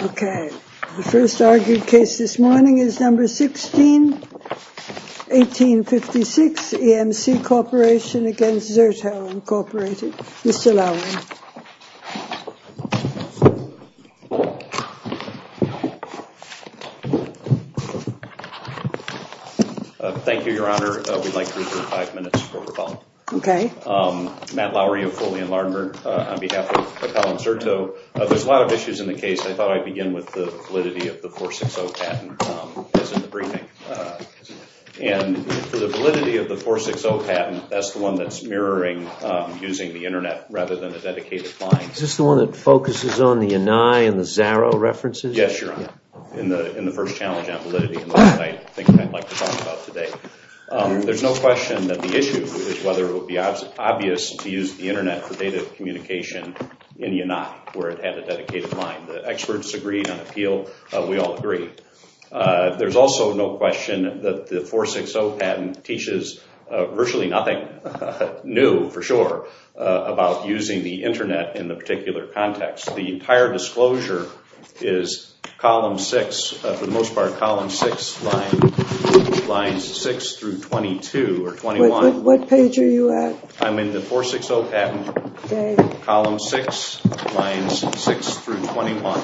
Okay, the first argued case this morning is number 16, 1856 EMC Corporation v. Zerto Incorporated. Mr. Lowery. Thank you, Your Honor. We'd like to reserve five minutes for rebuttal. Okay. Matt Lowery of Foley & Lardner on behalf of Colin Zerto. There's a lot of issues in the case. I thought I'd begin with the validity of the 460 patent as in the briefing. And for the validity of the 460 patent, that's the one that's mirroring using the Internet rather than a dedicated client. Is this the one that focuses on the Eni and the Zaro references? Yes, Your Honor, in the first challenge on validity, and that's what I think I'd like to talk about today. There's no question that the issue is whether it would be obvious to use the Internet for data communication in ENOC where it had a dedicated client. The experts agreed on appeal. We all agree. There's also no question that the 460 patent teaches virtually nothing new, for sure, about using the Internet in the particular context. The entire disclosure is column 6, for the most part column 6, lines 6 through 22 or 21. What page are you at? I'm in the 460 patent, column 6, lines 6 through 21.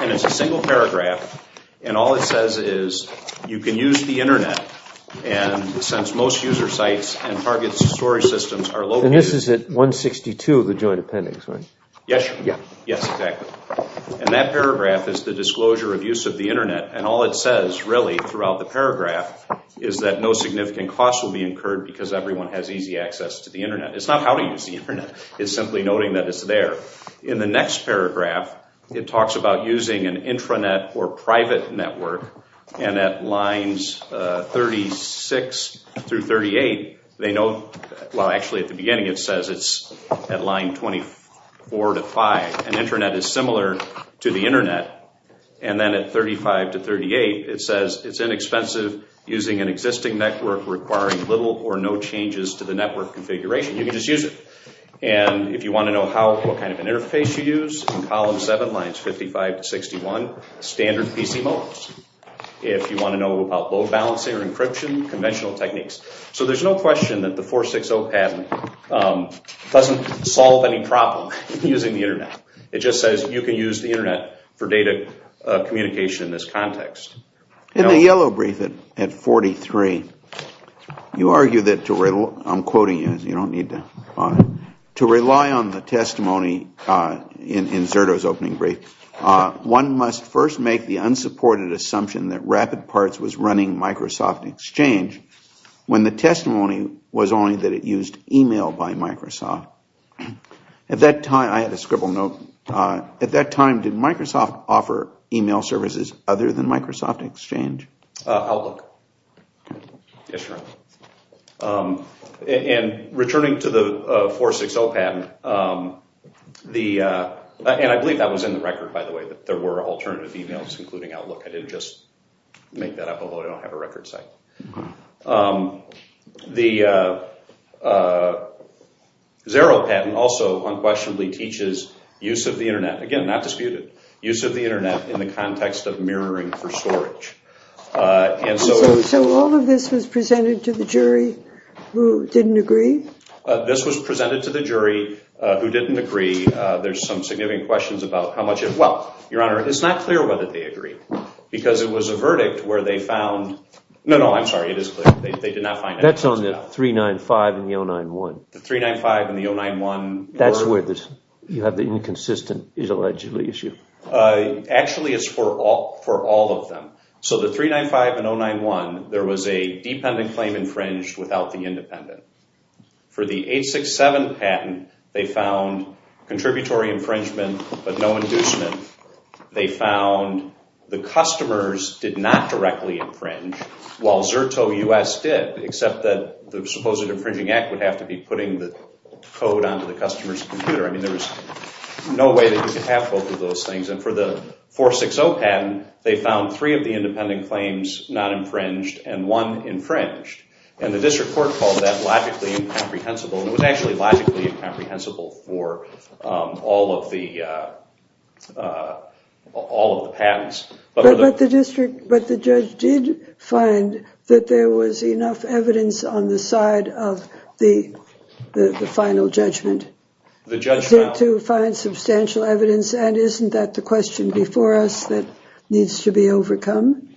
And it's a single paragraph, and all it says is you can use the Internet. And since most user sites and target story systems are located... And this is at 162, the joint appendix, right? Yes, Your Honor. Yes, exactly. And that paragraph is the disclosure of use of the Internet. And all it says, really, throughout the paragraph, is that no significant cost will be incurred because everyone has easy access to the Internet. It's not how to use the Internet. It's simply noting that it's there. In the next paragraph, it talks about using an intranet or private network. And at lines 36 through 38, they note... Well, actually, at the beginning, it says it's at line 24 to 5. An intranet is similar to the Internet. And then at 35 to 38, it says it's inexpensive using an existing network requiring little or no changes to the network configuration. You can just use it. And if you want to know what kind of an interface you use, in column 7, lines 55 to 61, standard PC modes. If you want to know about load balancing or encryption, conventional techniques. So there's no question that the 460 patent doesn't solve any problem using the Internet. It just says you can use the Internet for data communication in this context. In the yellow brief at 43, you argue that to... I'm quoting you. You don't need to. To rely on the testimony in Zerto's opening brief, one must first make the unsupported assumption that RapidParts was running Microsoft Exchange when the testimony was only that it used email by Microsoft. I had a scribble note. At that time, did Microsoft offer email services other than Microsoft Exchange? Outlook. Yes, sir. And returning to the 460 patent, and I believe that was in the record, by the way, that there were alternative emails including Outlook. I didn't just make that up, although I don't have a record site. The Zero patent also unquestionably teaches use of the Internet. Again, not disputed. Use of the Internet in the context of mirroring for storage. So all of this was presented to the jury who didn't agree? This was presented to the jury who didn't agree. There's some significant questions about how much it... Well, Your Honor, it's not clear whether they agree because it was a verdict where they found... No, no, I'm sorry, it is clear. They did not find... That's on the 395 and the 091. The 395 and the 091 were... That's where you have the inconsistent is allegedly issue. Actually, it's for all of them. So the 395 and 091, there was a dependent claim infringed without the independent. For the 867 patent, they found contributory infringement but no inducement. They found the customers did not directly infringe while Zerto U.S. did, except that the supposed infringing act would have to be putting the code onto the customer's computer. I mean, there was no way that you could have both of those things. And for the 460 patent, they found three of the independent claims non-infringed and one infringed. And the district court called that logically incomprehensible. It was actually logically incomprehensible for all of the patents. But the district, but the judge did find that there was enough evidence on the side of the final judgment. The judge found... To find substantial evidence, and isn't that the question before us that needs to be overcome?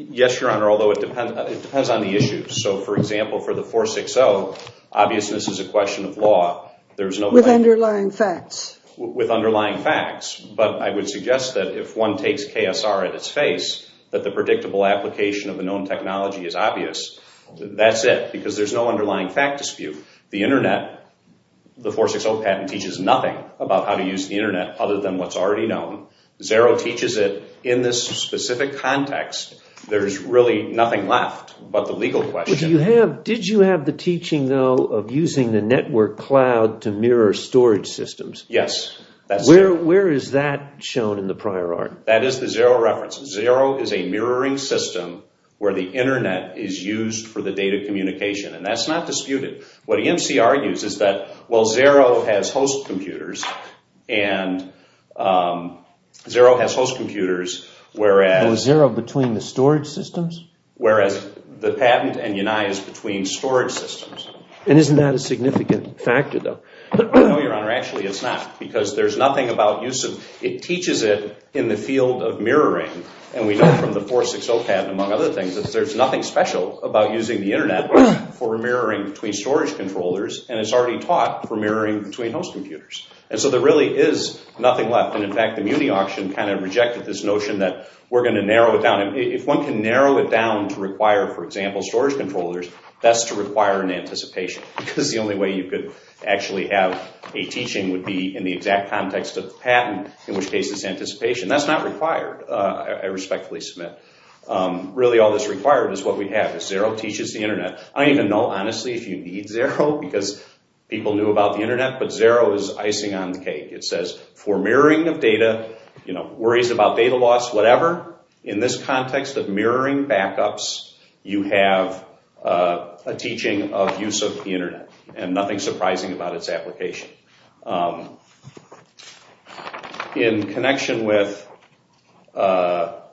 Yes, Your Honor, although it depends on the issues. So, for example, for the 460, obviousness is a question of law. With underlying facts. With underlying facts. But I would suggest that if one takes KSR at its face, that the predictable application of the known technology is obvious, that's it. Because there's no underlying fact dispute. The internet, the 460 patent teaches nothing about how to use the internet other than what's already known. Xero teaches it in this specific context. There's really nothing left but the legal question. Did you have the teaching, though, of using the network cloud to mirror storage systems? Yes. Where is that shown in the prior art? That is the Xero reference. Xero is a mirroring system where the internet is used for the data communication. And that's not disputed. What EMC argues is that, well, Xero has host computers, and Xero has host computers, whereas… Well, is Xero between the storage systems? Whereas the patent and UNI is between storage systems. And isn't that a significant factor, though? No, Your Honor, actually it's not. Because there's nothing about use of – it teaches it in the field of mirroring. And we know from the 460 patent, among other things, that there's nothing special about using the internet for mirroring between storage controllers. And it's already taught for mirroring between host computers. And so there really is nothing left. And, in fact, the MUNI auction kind of rejected this notion that we're going to narrow it down. If one can narrow it down to require, for example, storage controllers, that's to require an anticipation. Because the only way you could actually have a teaching would be in the exact context of the patent, in which case it's anticipation. That's not required, I respectfully submit. Really, all that's required is what we have, is Xero teaches the internet. I don't even know, honestly, if you need Xero, because people knew about the internet. But Xero is icing on the cake. It says, for mirroring of data, worries about data loss, whatever, in this context of mirroring backups, you have a teaching of use of the internet. And nothing surprising about its application. In connection with, while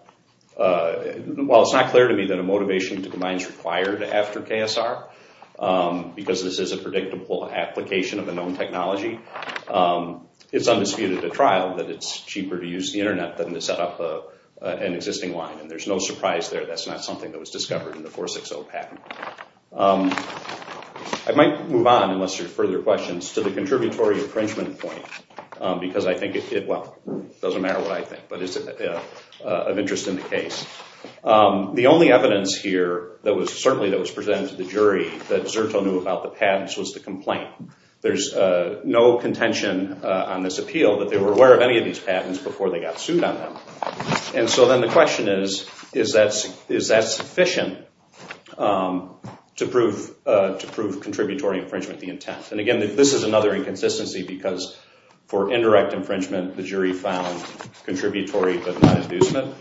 it's not clear to me that a motivation to combine is required after KSR, because this is a predictable application of a known technology, it's undisputed at trial that it's cheaper to use the internet than to set up an existing line. And there's no surprise there. That's not something that was discovered in the 460 patent. I might move on, unless there's further questions, to the contributory infringement point. Because I think it, well, it doesn't matter what I think, but it's of interest in the case. The only evidence here, certainly that was presented to the jury, that Xerto knew about the patents was the complaint. There's no contention on this appeal that they were aware of any of these patents before they got sued on them. And so then the question is, is that sufficient to prove contributory infringement the intent? And again, this is another inconsistency, because for indirect infringement, the jury found contributory, but not abusement.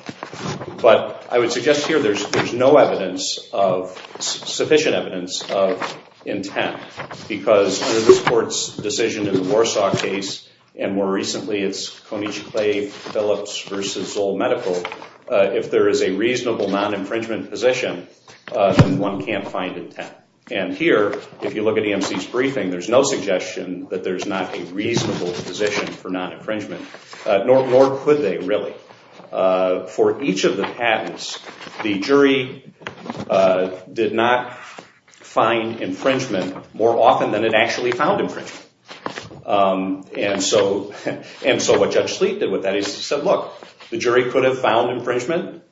But I would suggest here there's no evidence of, sufficient evidence of intent. Because under this court's decision in the Warsaw case, and more recently it's Konieczny-Clave-Phillips v. Zoll Medical, if there is a reasonable non-infringement position, then one can't find intent. And here, if you look at EMC's briefing, there's no suggestion that there's not a reasonable position for non-infringement, nor could they really. For each of the patents, the jury did not find infringement more often than it actually found infringement. And so what Judge Sleet did with that is he said, look, the jury could have found infringement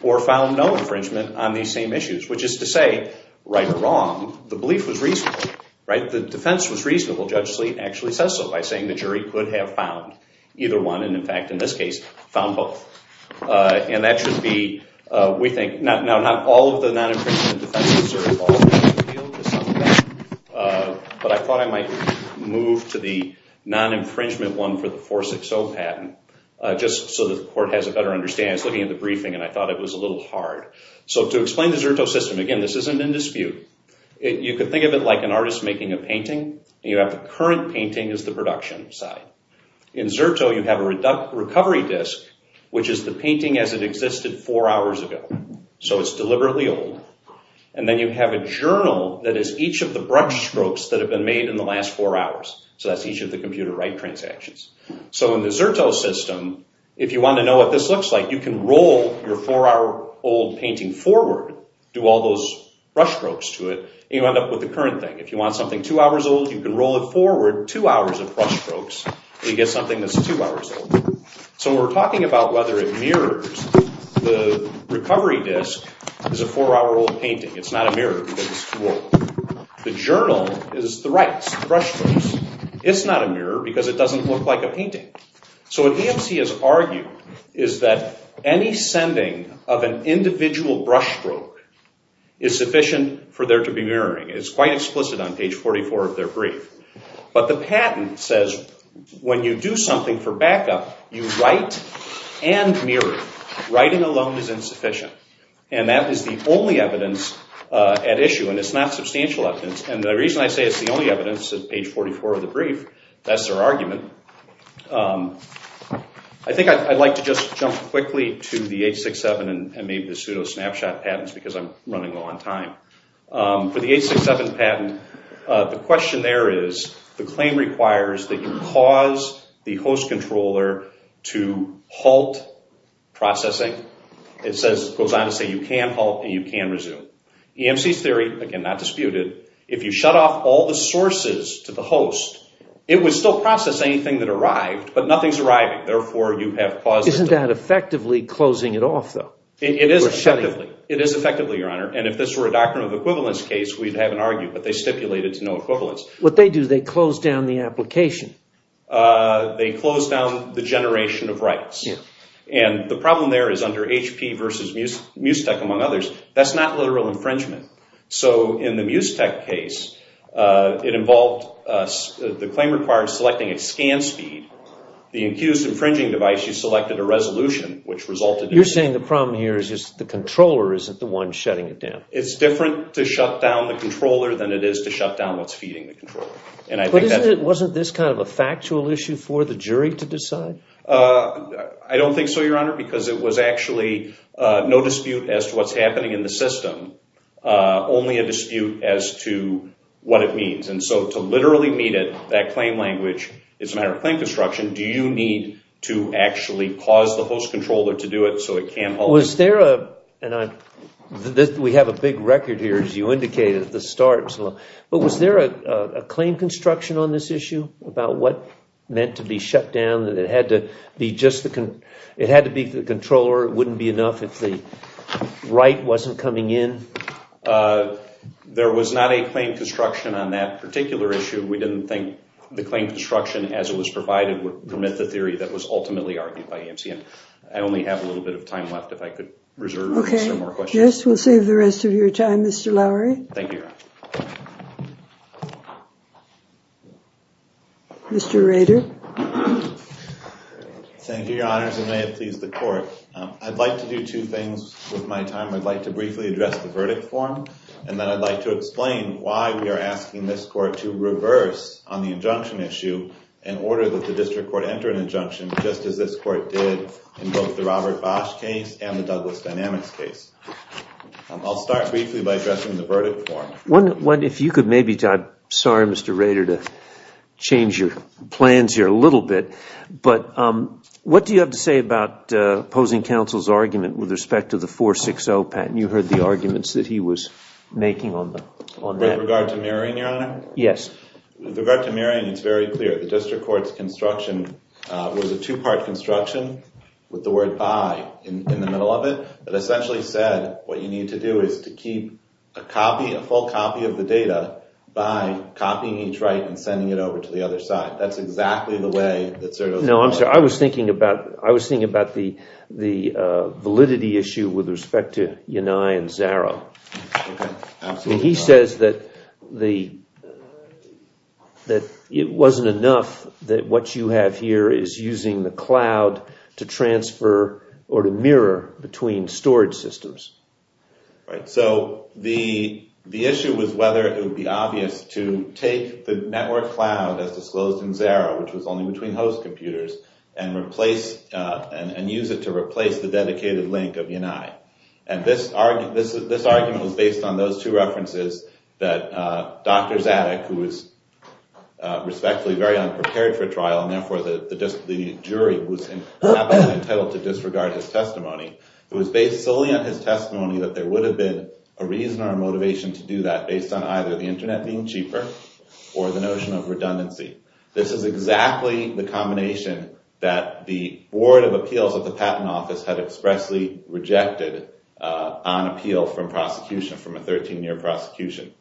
or found no infringement on these same issues. Which is to say, right or wrong, the belief was reasonable. The defense was reasonable. Judge Sleet actually says so by saying the jury could have found either one. And in fact, in this case, found both. And that should be, we think, now not all of the non-infringement defenses are involved in this appeal. But I thought I might move to the non-infringement one for the 460 patent, just so the court has a better understanding. I was looking at the briefing and I thought it was a little hard. So to explain the Zerto system, again, this isn't in dispute. You could think of it like an artist making a painting. You have the current painting as the production side. In Zerto, you have a recovery disk, which is the painting as it existed four hours ago. So it's deliberately old. And then you have a journal that is each of the brush strokes that have been made in the last four hours. So that's each of the computer write transactions. So in the Zerto system, if you want to know what this looks like, you can roll your four-hour-old painting forward, do all those brush strokes to it, and you end up with the current thing. If you want something two hours old, you can roll it forward two hours of brush strokes, and you get something that's two hours old. So we're talking about whether it mirrors the recovery disk is a four-hour-old painting. It's not a mirror because it's too old. The journal is the writes, the brush strokes. It's not a mirror because it doesn't look like a painting. So what AMC has argued is that any sending of an individual brush stroke is sufficient for there to be mirroring. It's quite explicit on page 44 of their brief. But the patent says when you do something for backup, you write and mirror. Writing alone is insufficient. And that is the only evidence at issue, and it's not substantial evidence. And the reason I say it's the only evidence is page 44 of the brief. That's their argument. I think I'd like to just jump quickly to the 867 and maybe the pseudo-snapshot patents because I'm running low on time. For the 867 patent, the question there is the claim requires that you cause the host controller to halt processing. It goes on to say you can halt and you can resume. AMC's theory, again, not disputed. If you shut off all the sources to the host, it would still process anything that arrived, but nothing's arriving. Therefore, you have caused it to— Isn't that effectively closing it off, though? It is effectively, Your Honor. And if this were a doctrine of equivalence case, we'd have an argument, but they stipulated to no equivalence. What they do, they close down the application. They close down the generation of rights. And the problem there is under HP versus Musetech, among others, that's not literal infringement. So in the Musetech case, it involved the claim requires selecting a scan speed. The accused infringing device, you selected a resolution, which resulted in— You're saying the problem here is just the controller isn't the one shutting it down. It's different to shut down the controller than it is to shut down what's feeding the controller. And I think that— Wasn't this kind of a factual issue for the jury to decide? I don't think so, Your Honor, because it was actually no dispute as to what's happening in the system, only a dispute as to what it means. And so to literally meet it, that claim language, it's a matter of claim construction. Do you need to actually cause the host controller to do it so it can't— Was there a—and we have a big record here, as you indicated at the start. But was there a claim construction on this issue about what meant to be shut down, that it had to be the controller, it wouldn't be enough if the right wasn't coming in? There was not a claim construction on that particular issue. We didn't think the claim construction as it was provided would permit the theory that was ultimately argued by AMC. I only have a little bit of time left if I could reserve some more questions. Okay. Yes, we'll save the rest of your time, Mr. Lowery. Thank you, Your Honor. Mr. Rader. Thank you, Your Honors, and may it please the Court. I'd like to do two things with my time. I'd like to briefly address the verdict form, and then I'd like to explain why we are asking this Court to reverse on the injunction issue in order that the district court enter an injunction, just as this Court did in both the Robert Bosch case and the Douglas Dynamics case. I'll start briefly by addressing the verdict form. I'm sorry, Mr. Rader, to change your plans here a little bit, but what do you have to say about opposing counsel's argument with respect to the 460 patent? You heard the arguments that he was making on that. With regard to Marion, Your Honor? Yes. With regard to Marion, it's very clear. The district court's construction was a two-part construction with the word by in the middle of it that essentially said what you need to do is to keep a copy, a full copy of the data, by copying each right and sending it over to the other side. That's exactly the way that Zerdo is going. No, I'm sorry. I was thinking about the validity issue with respect to Yanai and Zaro. Okay. Absolutely. He says that it wasn't enough that what you have here is using the cloud to transfer or to mirror between storage systems. So the issue was whether it would be obvious to take the network cloud as disclosed in Zaro, which was only between host computers, and use it to replace the dedicated link of Yanai. And this argument was based on those two references that Dr. Zadig, who was respectfully very unprepared for trial and, therefore, the jury, was happily entitled to disregard his testimony. It was based solely on his testimony that there would have been a reason or a motivation to do that based on either the internet being cheaper or the notion of redundancy. This is exactly the combination that the Board of Appeals of the Patent Office had expressly rejected on appeal from prosecution, from a 13-year prosecution.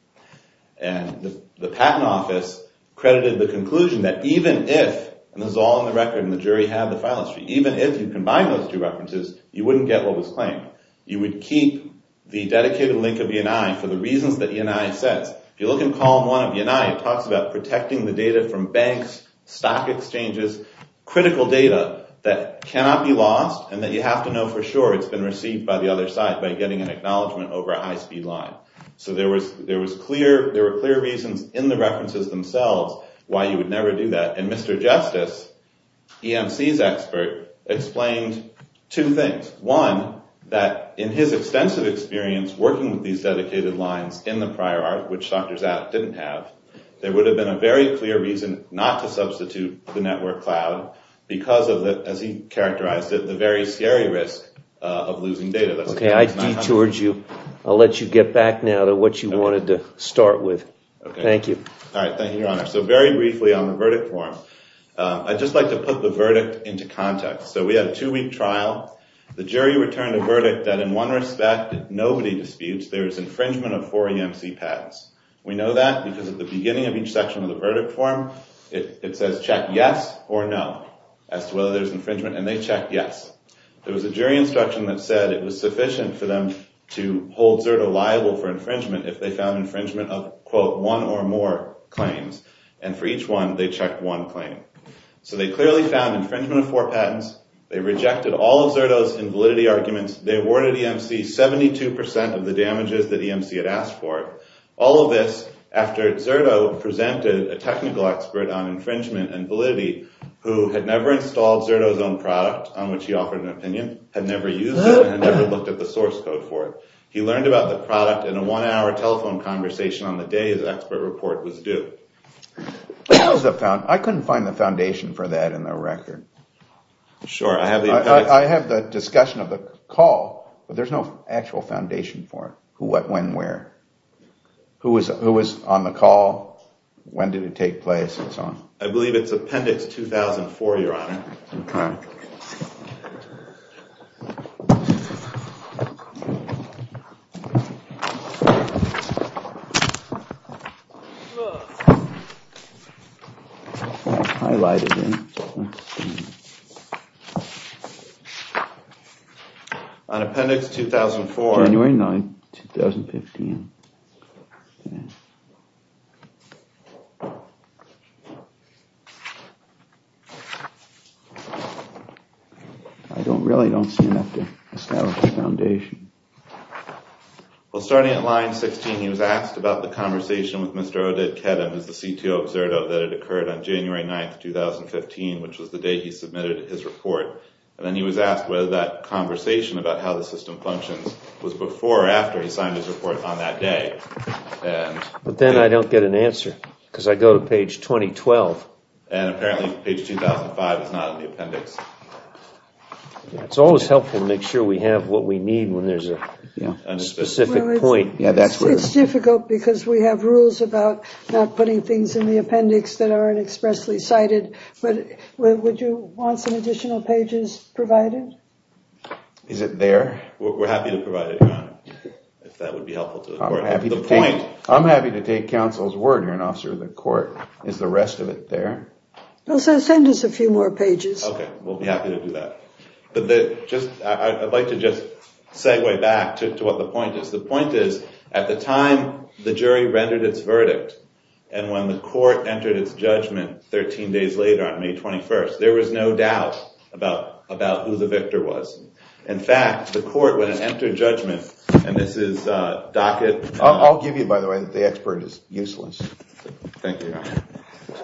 And the Patent Office credited the conclusion that even if, and this is all on the record and the jury had the file history, even if you combine those two references, you wouldn't get what was claimed. You would keep the dedicated link of Yanai for the reasons that Yanai says. If you look in column one of Yanai, it talks about protecting the data from banks, stock exchanges, critical data that cannot be lost, and that you have to know for sure it's been received by the other side by getting an acknowledgement over a high-speed line. So there were clear reasons in the references themselves why you would never do that. And Mr. Justice, EMC's expert, explained two things. One, that in his extensive experience working with these dedicated lines in the prior art, which Dr. Zapp didn't have, there would have been a very clear reason not to substitute the network cloud because of the, as he characterized it, the very scary risk of losing data. Okay, I detoured you. I'll let you get back now to what you wanted to start with. Thank you. All right, thank you, Your Honor. So very briefly on the verdict form, I'd just like to put the verdict into context. So we had a two-week trial. The jury returned a verdict that in one respect nobody disputes there is infringement of four EMC patents. We know that because at the beginning of each section of the verdict form, it says check yes or no as to whether there's infringement, and they checked yes. There was a jury instruction that said it was sufficient for them to hold Zerto liable for infringement if they found infringement of, quote, one or more claims. And for each one, they checked one claim. So they clearly found infringement of four patents. They rejected all of Zerto's invalidity arguments. They awarded EMC 72% of the damages that EMC had asked for. All of this after Zerto presented a technical expert on infringement and validity who had never installed Zerto's own product on which he offered an opinion, had never used it, and had never looked at the source code for it. He learned about the product in a one-hour telephone conversation on the day his expert report was due. I couldn't find the foundation for that in the record. Sure. I have the discussion of the call, but there's no actual foundation for it. Who, what, when, where. Who was on the call, when did it take place, and so on. I believe it's appendix 2004, Your Honor. OK. OK. On appendix 2004. January 9, 2015. I really don't see enough to establish a foundation. Well, starting at line 16, he was asked about the conversation with Mr. Oded Kedem, who's the CTO of Zerto, that had occurred on January 9, 2015, which was the day he submitted his report. And then he was asked whether that conversation about how the system functions was before or after he signed his report on that day. But then I don't get an answer, because I go to page 2012. And apparently page 2005 is not in the appendix. It's always helpful to make sure we have what we need when there's a specific point. It's difficult because we have rules about not putting things in the appendix that aren't expressly cited. But would you want some additional pages provided? Is it there? We're happy to provide it, Your Honor. If that would be helpful to the court. I'm happy to take counsel's word, Your Honor, Officer of the Court. Is the rest of it there? Well, send us a few more pages. Okay, we'll be happy to do that. I'd like to just segue back to what the point is. The point is, at the time the jury rendered its verdict, and when the court entered its judgment 13 days later on May 21, there was no doubt about who the victor was. In fact, the court, when it entered judgment, and this is docket... I'll give you, by the way, the expert is useless. Thank you, Your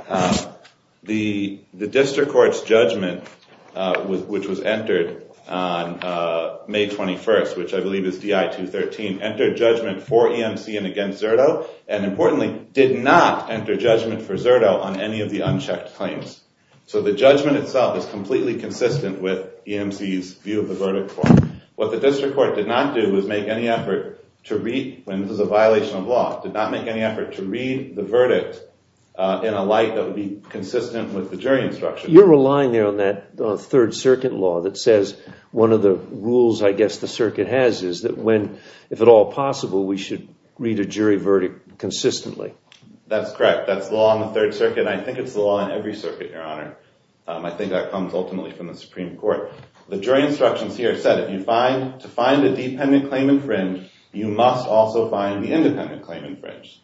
Honor. The district court's judgment, which was entered on May 21, which I believe is DI 213, entered judgment for EMC and against Zerto, and importantly, did not enter judgment for Zerto on any of the unchecked claims. So the judgment itself is completely consistent with EMC's view of the verdict form. What the district court did not do was make any effort to read, and this is a violation of law, did not make any effort to read the verdict in a light that would be consistent with the jury instruction. You're relying there on that Third Circuit law that says, one of the rules I guess the circuit has is that when, if at all possible, we should read a jury verdict consistently. That's correct. That's the law on the Third Circuit, and I think it's the law on every circuit, Your Honor. I think that comes ultimately from the Supreme Court. The jury instructions here said if you find, to find a dependent claim infringed, you must also find the independent claim infringed.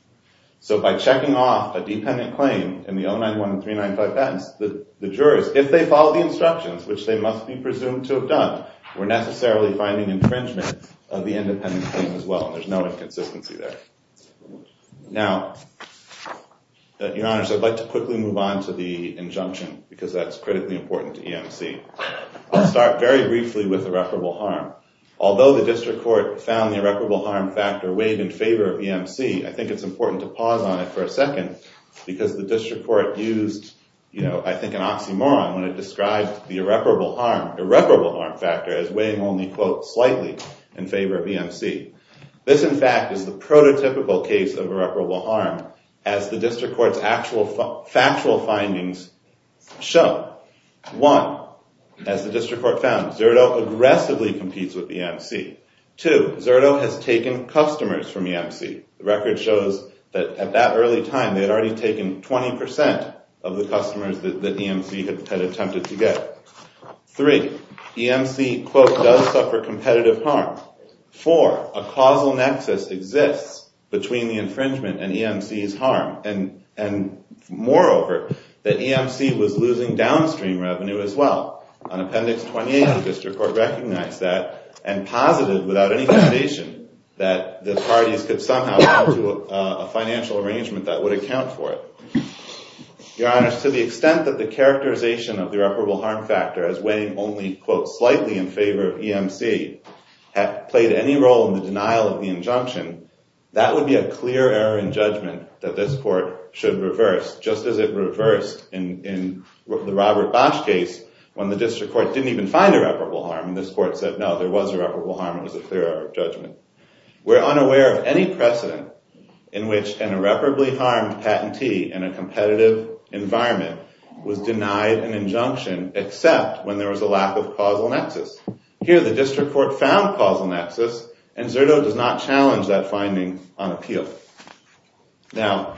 So by checking off a dependent claim in the 091 and 395 patents, the jurors, if they follow the instructions, which they must be presumed to have done, were necessarily finding infringement of the independent claim as well. There's no inconsistency there. Now, Your Honor, I'd like to quickly move on to the injunction, because that's critically important to EMC. I'll start very briefly with irreparable harm. Although the district court found the irreparable harm factor weighed in favor of EMC, I think it's important to pause on it for a second, because the district court used, you know, I think an oxymoron when it described the irreparable harm factor as weighing only, quote, slightly in favor of EMC. This, in fact, is the prototypical case of irreparable harm, as the district court's actual factual findings show. One, as the district court found, Zerto aggressively competes with EMC. Two, Zerto has taken customers from EMC. The record shows that at that early time, they had already taken 20% of the customers that EMC had attempted to get. Three, EMC, quote, does suffer competitive harm. Four, a causal nexus exists between the infringement and EMC's harm, and moreover, that EMC was losing downstream revenue as well. On Appendix 28, the district court recognized that and posited without any foundation that the parties could somehow do a financial arrangement that would account for it. Your Honors, to the extent that the characterization of the irreparable harm factor as weighing only, quote, slightly in favor of EMC had played any role in the denial of the injunction, that would be a clear error in judgment that this court should reverse, just as it reversed in the Robert Bosch case when the district court didn't even find irreparable harm, and this court said, no, there was irreparable harm. It was a clear error of judgment. We're unaware of any precedent in which an irreparably harmed patentee in a competitive environment was denied an injunction except when there was a lack of causal nexus. Here, the district court found causal nexus, and Zerto does not challenge that finding on appeal. Now,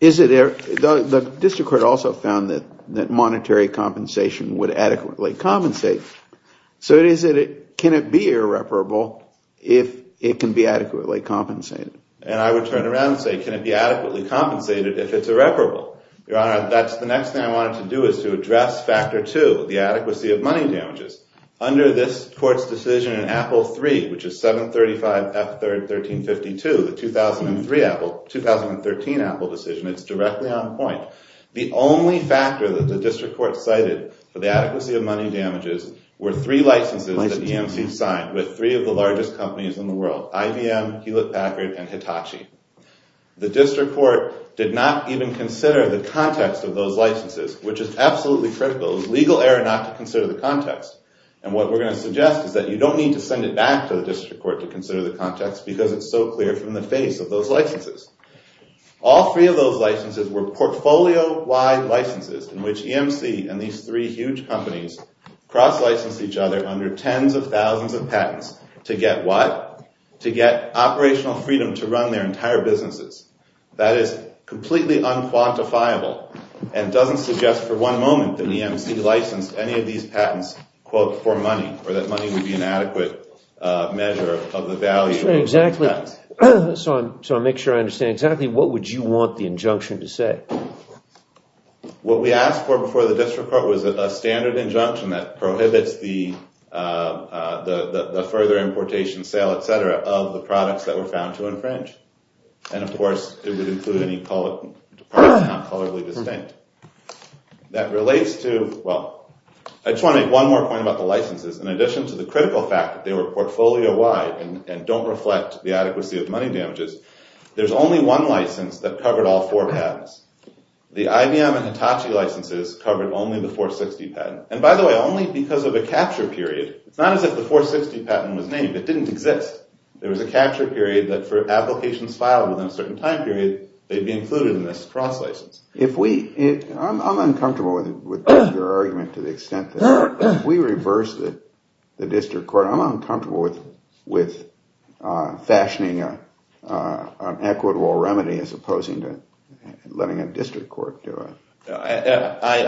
the district court also found that monetary compensation would adequately compensate. So can it be irreparable if it can be adequately compensated? And I would turn around and say, can it be adequately compensated if it's irreparable? Your Honor, that's the next thing I wanted to do, is to address Factor 2, the adequacy of money damages. Under this court's decision in Apple III, which is 735F1352, the 2013 Apple decision, it's directly on point. The only factor that the district court cited for the adequacy of money damages were three licenses that the EMC signed with three of the largest companies in the world, IBM, Hewlett Packard, and Hitachi. The district court did not even consider the context of those licenses, which is absolutely critical. It was legal error not to consider the context. And what we're going to suggest is that you don't need to send it back to the district court to consider the context because it's so clear from the face of those licenses. All three of those licenses were portfolio-wide licenses in which EMC and these three huge companies cross-licensed each other under tens of thousands of patents to get what? To get operational freedom to run their entire businesses. That is completely unquantifiable, and doesn't suggest for one moment that EMC licensed any of these patents, quote, for money or that money would be an adequate measure of the value of patents. So I'll make sure I understand exactly what would you want the injunction to say? What we asked for before the district court was a standard injunction that prohibits the further importation, sale, et cetera, of the products that were found to infringe. And, of course, it would include any product found colorably distinct. That relates to, well, I just want to make one more point about the licenses. In addition to the critical fact that they were portfolio-wide and don't reflect the adequacy of money damages, there's only one license that covered all four patents. The IBM and Hitachi licenses covered only the 460 patent. And, by the way, only because of a capture period. It's not as if the 460 patent was named. It didn't exist. There was a capture period that for applications filed within a certain time period, they'd be included in this cross-license. I'm uncomfortable with your argument to the extent that if we reverse the district court, I'm uncomfortable with fashioning an equitable remedy as opposing to letting a district court do it. I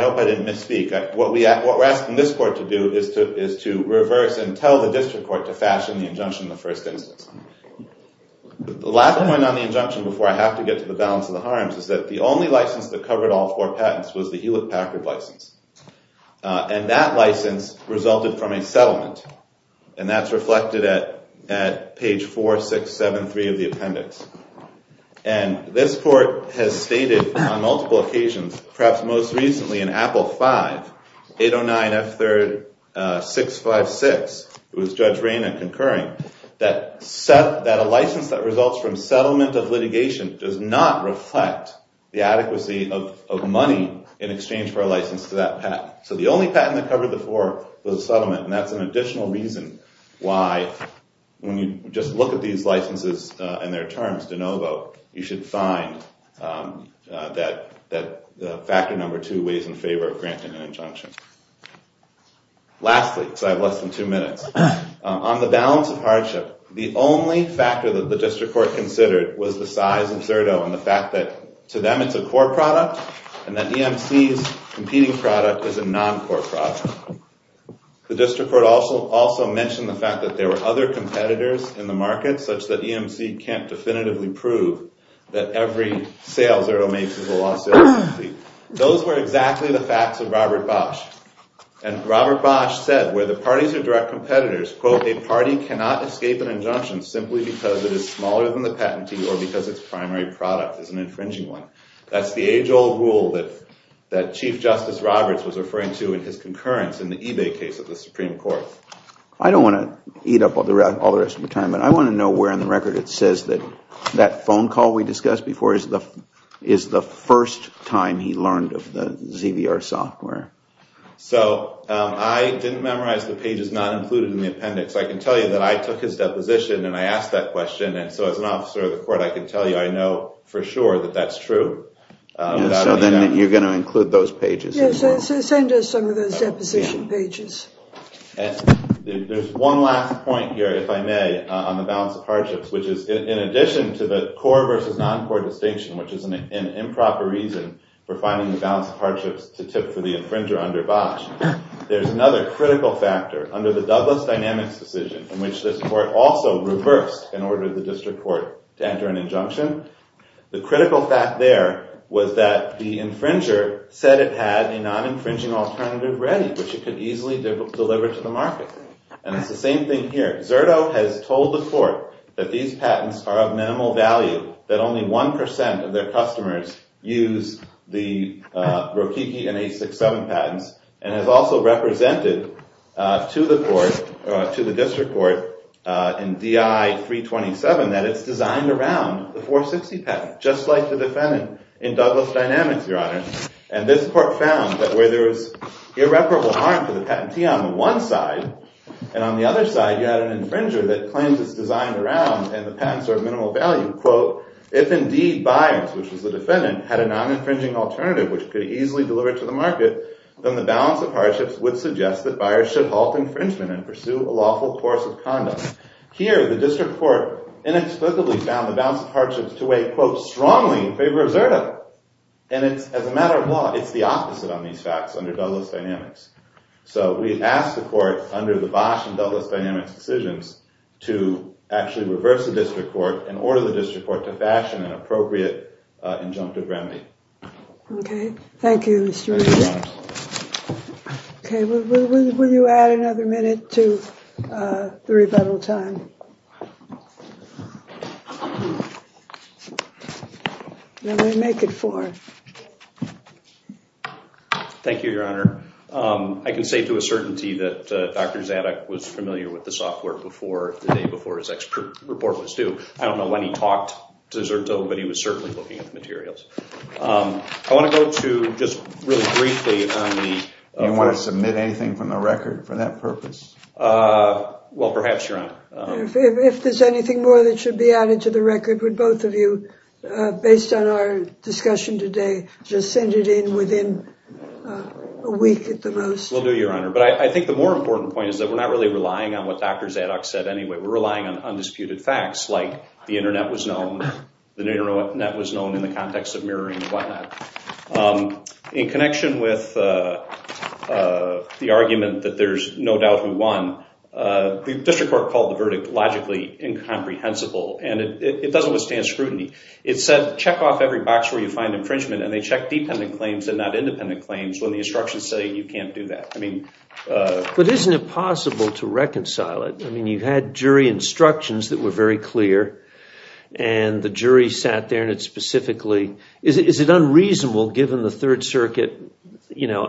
hope I didn't misspeak. What we're asking this court to do is to reverse and tell the district court to fashion the injunction in the first instance. The last point on the injunction before I have to get to the balance of the harms is that the only license that covered all four patents was the Hewlett-Packard license. And that license resulted from a settlement. And that's reflected at page 4673 of the appendix. And this court has stated on multiple occasions, perhaps most recently in Apple 5, 809 F3rd 656, it was Judge Raina concurring, that a license that results from settlement of litigation does not reflect the adequacy of money in exchange for a license to that patent. So the only patent that covered the four was a settlement. And that's an additional reason why when you just look at these licenses and their terms, de novo, you should find that factor number two weighs in favor of granting an injunction. Lastly, because I have less than two minutes, on the balance of hardship, the only factor that the district court considered was the size of Zerto and the fact that to them it's a core product and that EMC's competing product is a non-core product. The district court also mentioned the fact that there were other competitors in the market such that EMC can't definitively prove that every sale Zerto makes is a lost sale. Those were exactly the facts of Robert Bosch. And Robert Bosch said, where the parties are direct competitors, quote, a party cannot escape an injunction simply because it is smaller than the patentee or because its primary product is an infringing one. That's the age old rule that Chief Justice Roberts was referring to in his concurrence in the eBay case of the Supreme Court. I don't want to eat up all the rest of your time, but I want to know where in the record it says that that phone call we discussed before is the first time he learned of the ZVR software. So I didn't memorize the pages not included in the appendix. I can tell you that I took his deposition and I asked that question. And so as an officer of the court, I can tell you I know for sure that that's true. So then you're going to include those pages. Yes, send us some of those deposition pages. There's one last point here, if I may, on the balance of hardships, which is in addition to the core versus non-core distinction, which is an improper reason for finding the balance of hardships to tip for the infringer under Bosch, there's another critical factor under the Douglas dynamics decision in which this court also reversed and ordered the district court to enter an injunction. The critical fact there was that the infringer said it had a non-infringing alternative ready, which it could easily deliver to the market. And it's the same thing here. Zerto has told the court that these patents are of minimal value, that only 1% of their customers use the Rokiki and H67 patents, and has also represented to the district court in DI 327 that it's designed around the 460 patent, just like the defendant in Douglas dynamics, Your Honor. And this court found that where there was irreparable harm to the patentee on the one side, and on the other side you had an infringer that claims it's designed around and the patents are of minimal value. Quote, if indeed buyers, which was the defendant, had a non-infringing alternative, which could easily deliver to the market, then the balance of hardships would suggest that buyers should halt infringement and pursue a lawful course of conduct. Here, the district court inexplicably found the balance of hardships to weigh, quote, strongly in favor of Zerto. And as a matter of law, it's the opposite on these facts under Douglas dynamics. So we ask the court under the Bosch and Douglas dynamics decisions to actually reverse the district court and order the district court to fashion an appropriate injunctive remedy. OK. Thank you, Mr. Rizzo. OK. Will you add another minute to the rebuttal time? Let me make it four. Thank you, Your Honor. I can say to a certainty that Dr. Zadok was familiar with the software before the day before his report was due. I don't know when he talked to Zerto, but he was certainly looking at the materials. I want to go to just really briefly on the- Do you want to submit anything from the record for that purpose? Well, perhaps, Your Honor. If there's anything more that should be added to the record, would both of you, based on our discussion today, just send it in within a week at the most? Will do, Your Honor. But I think the more important point is that we're not really relying on what Dr. Zadok said anyway. We're relying on undisputed facts like the Internet was known, the Internet was known in the context of murdering and whatnot. In connection with the argument that there's no doubt who won, the district court called the verdict logically incomprehensible, and it doesn't withstand scrutiny. It said, check off every box where you find infringement, and they checked dependent claims and not independent claims when the instructions say you can't do that. But isn't it possible to reconcile it? I mean, you had jury instructions that were very clear, and the jury sat there and it specifically- Is it unreasonable, given the Third Circuit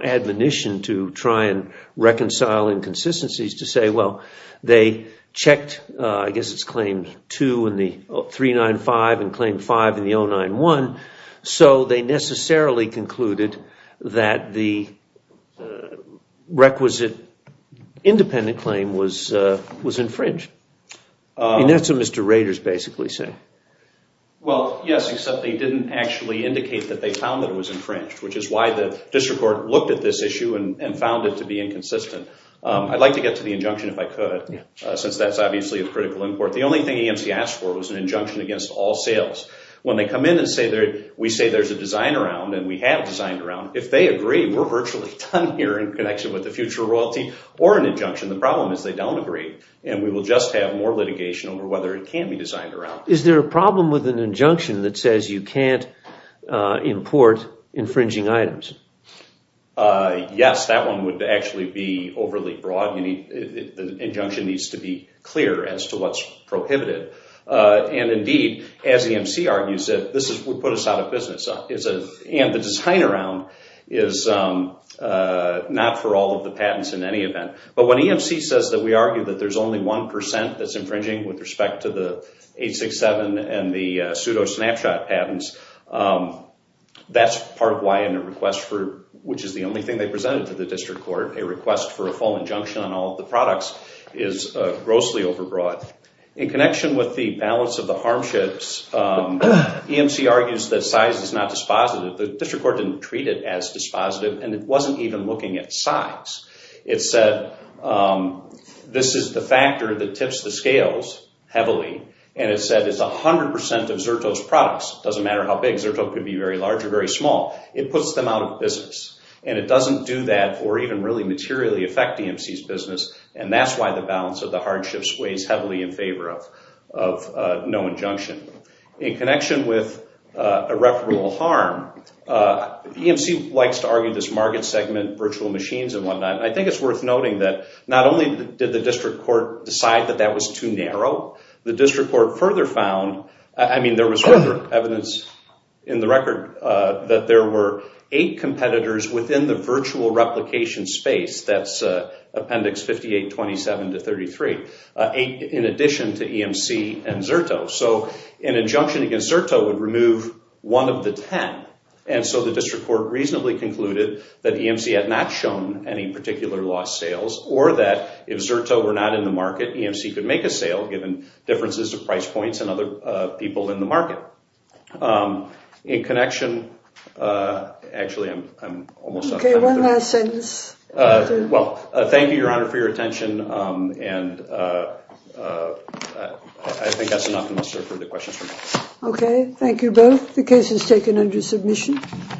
admonition to try and reconcile inconsistencies, to say, well, they checked, I guess it's Claim 2 in the 395 and Claim 5 in the 091, so they necessarily concluded that the requisite independent claim was infringed. And that's what Mr. Rader's basically saying. Well, yes, except they didn't actually indicate that they found that it was infringed, which is why the district court looked at this issue and found it to be inconsistent. I'd like to get to the injunction if I could, since that's obviously of critical import. The only thing AMC asked for was an injunction against all sales. When they come in and say, we say there's a design around and we have designed around, if they agree, we're virtually done here in connection with the future royalty, or an injunction, the problem is they don't agree, and we will just have more litigation over whether it can be designed around. Is there a problem with an injunction that says you can't import infringing items? Yes, that one would actually be overly broad. The injunction needs to be clear as to what's prohibited. And, indeed, as AMC argues it, this would put us out of business. And the design around is not for all of the patents in any event. But when AMC says that we argue that there's only 1% that's infringing with respect to the 867 and the pseudo-snapshot patents, that's part of why in a request for, which is the only thing they presented to the district court, a request for a full injunction on all of the products is grossly overbroad. In connection with the balance of the harmships, AMC argues that size is not dispositive. The district court didn't treat it as dispositive, and it wasn't even looking at size. It said this is the factor that tips the scales heavily, and it said it's 100% of Xerto's products. It doesn't matter how big. Xerto could be very large or very small. It puts them out of business. And it doesn't do that or even really materially affect AMC's business, and that's why the balance of the hardships weighs heavily in favor of no injunction. In connection with irreparable harm, AMC likes to argue this market segment, virtual machines, and whatnot. And I think it's worth noting that not only did the district court decide that that was too narrow, the district court further found, I mean, there was further evidence in the record that there were eight competitors within the virtual replication space. That's Appendix 5827 to 33. Eight in addition to EMC and Xerto. So an injunction against Xerto would remove one of the ten. And so the district court reasonably concluded that EMC had not shown any particular lost sales or that if Xerto were not in the market, EMC could make a sale given differences of price points and other people in the market. In connection, actually I'm almost out of time. Okay. One last sentence. Well, thank you, Your Honor, for your attention. And I think that's enough for the questions for now. Okay. Thank you both. The case is taken under submission.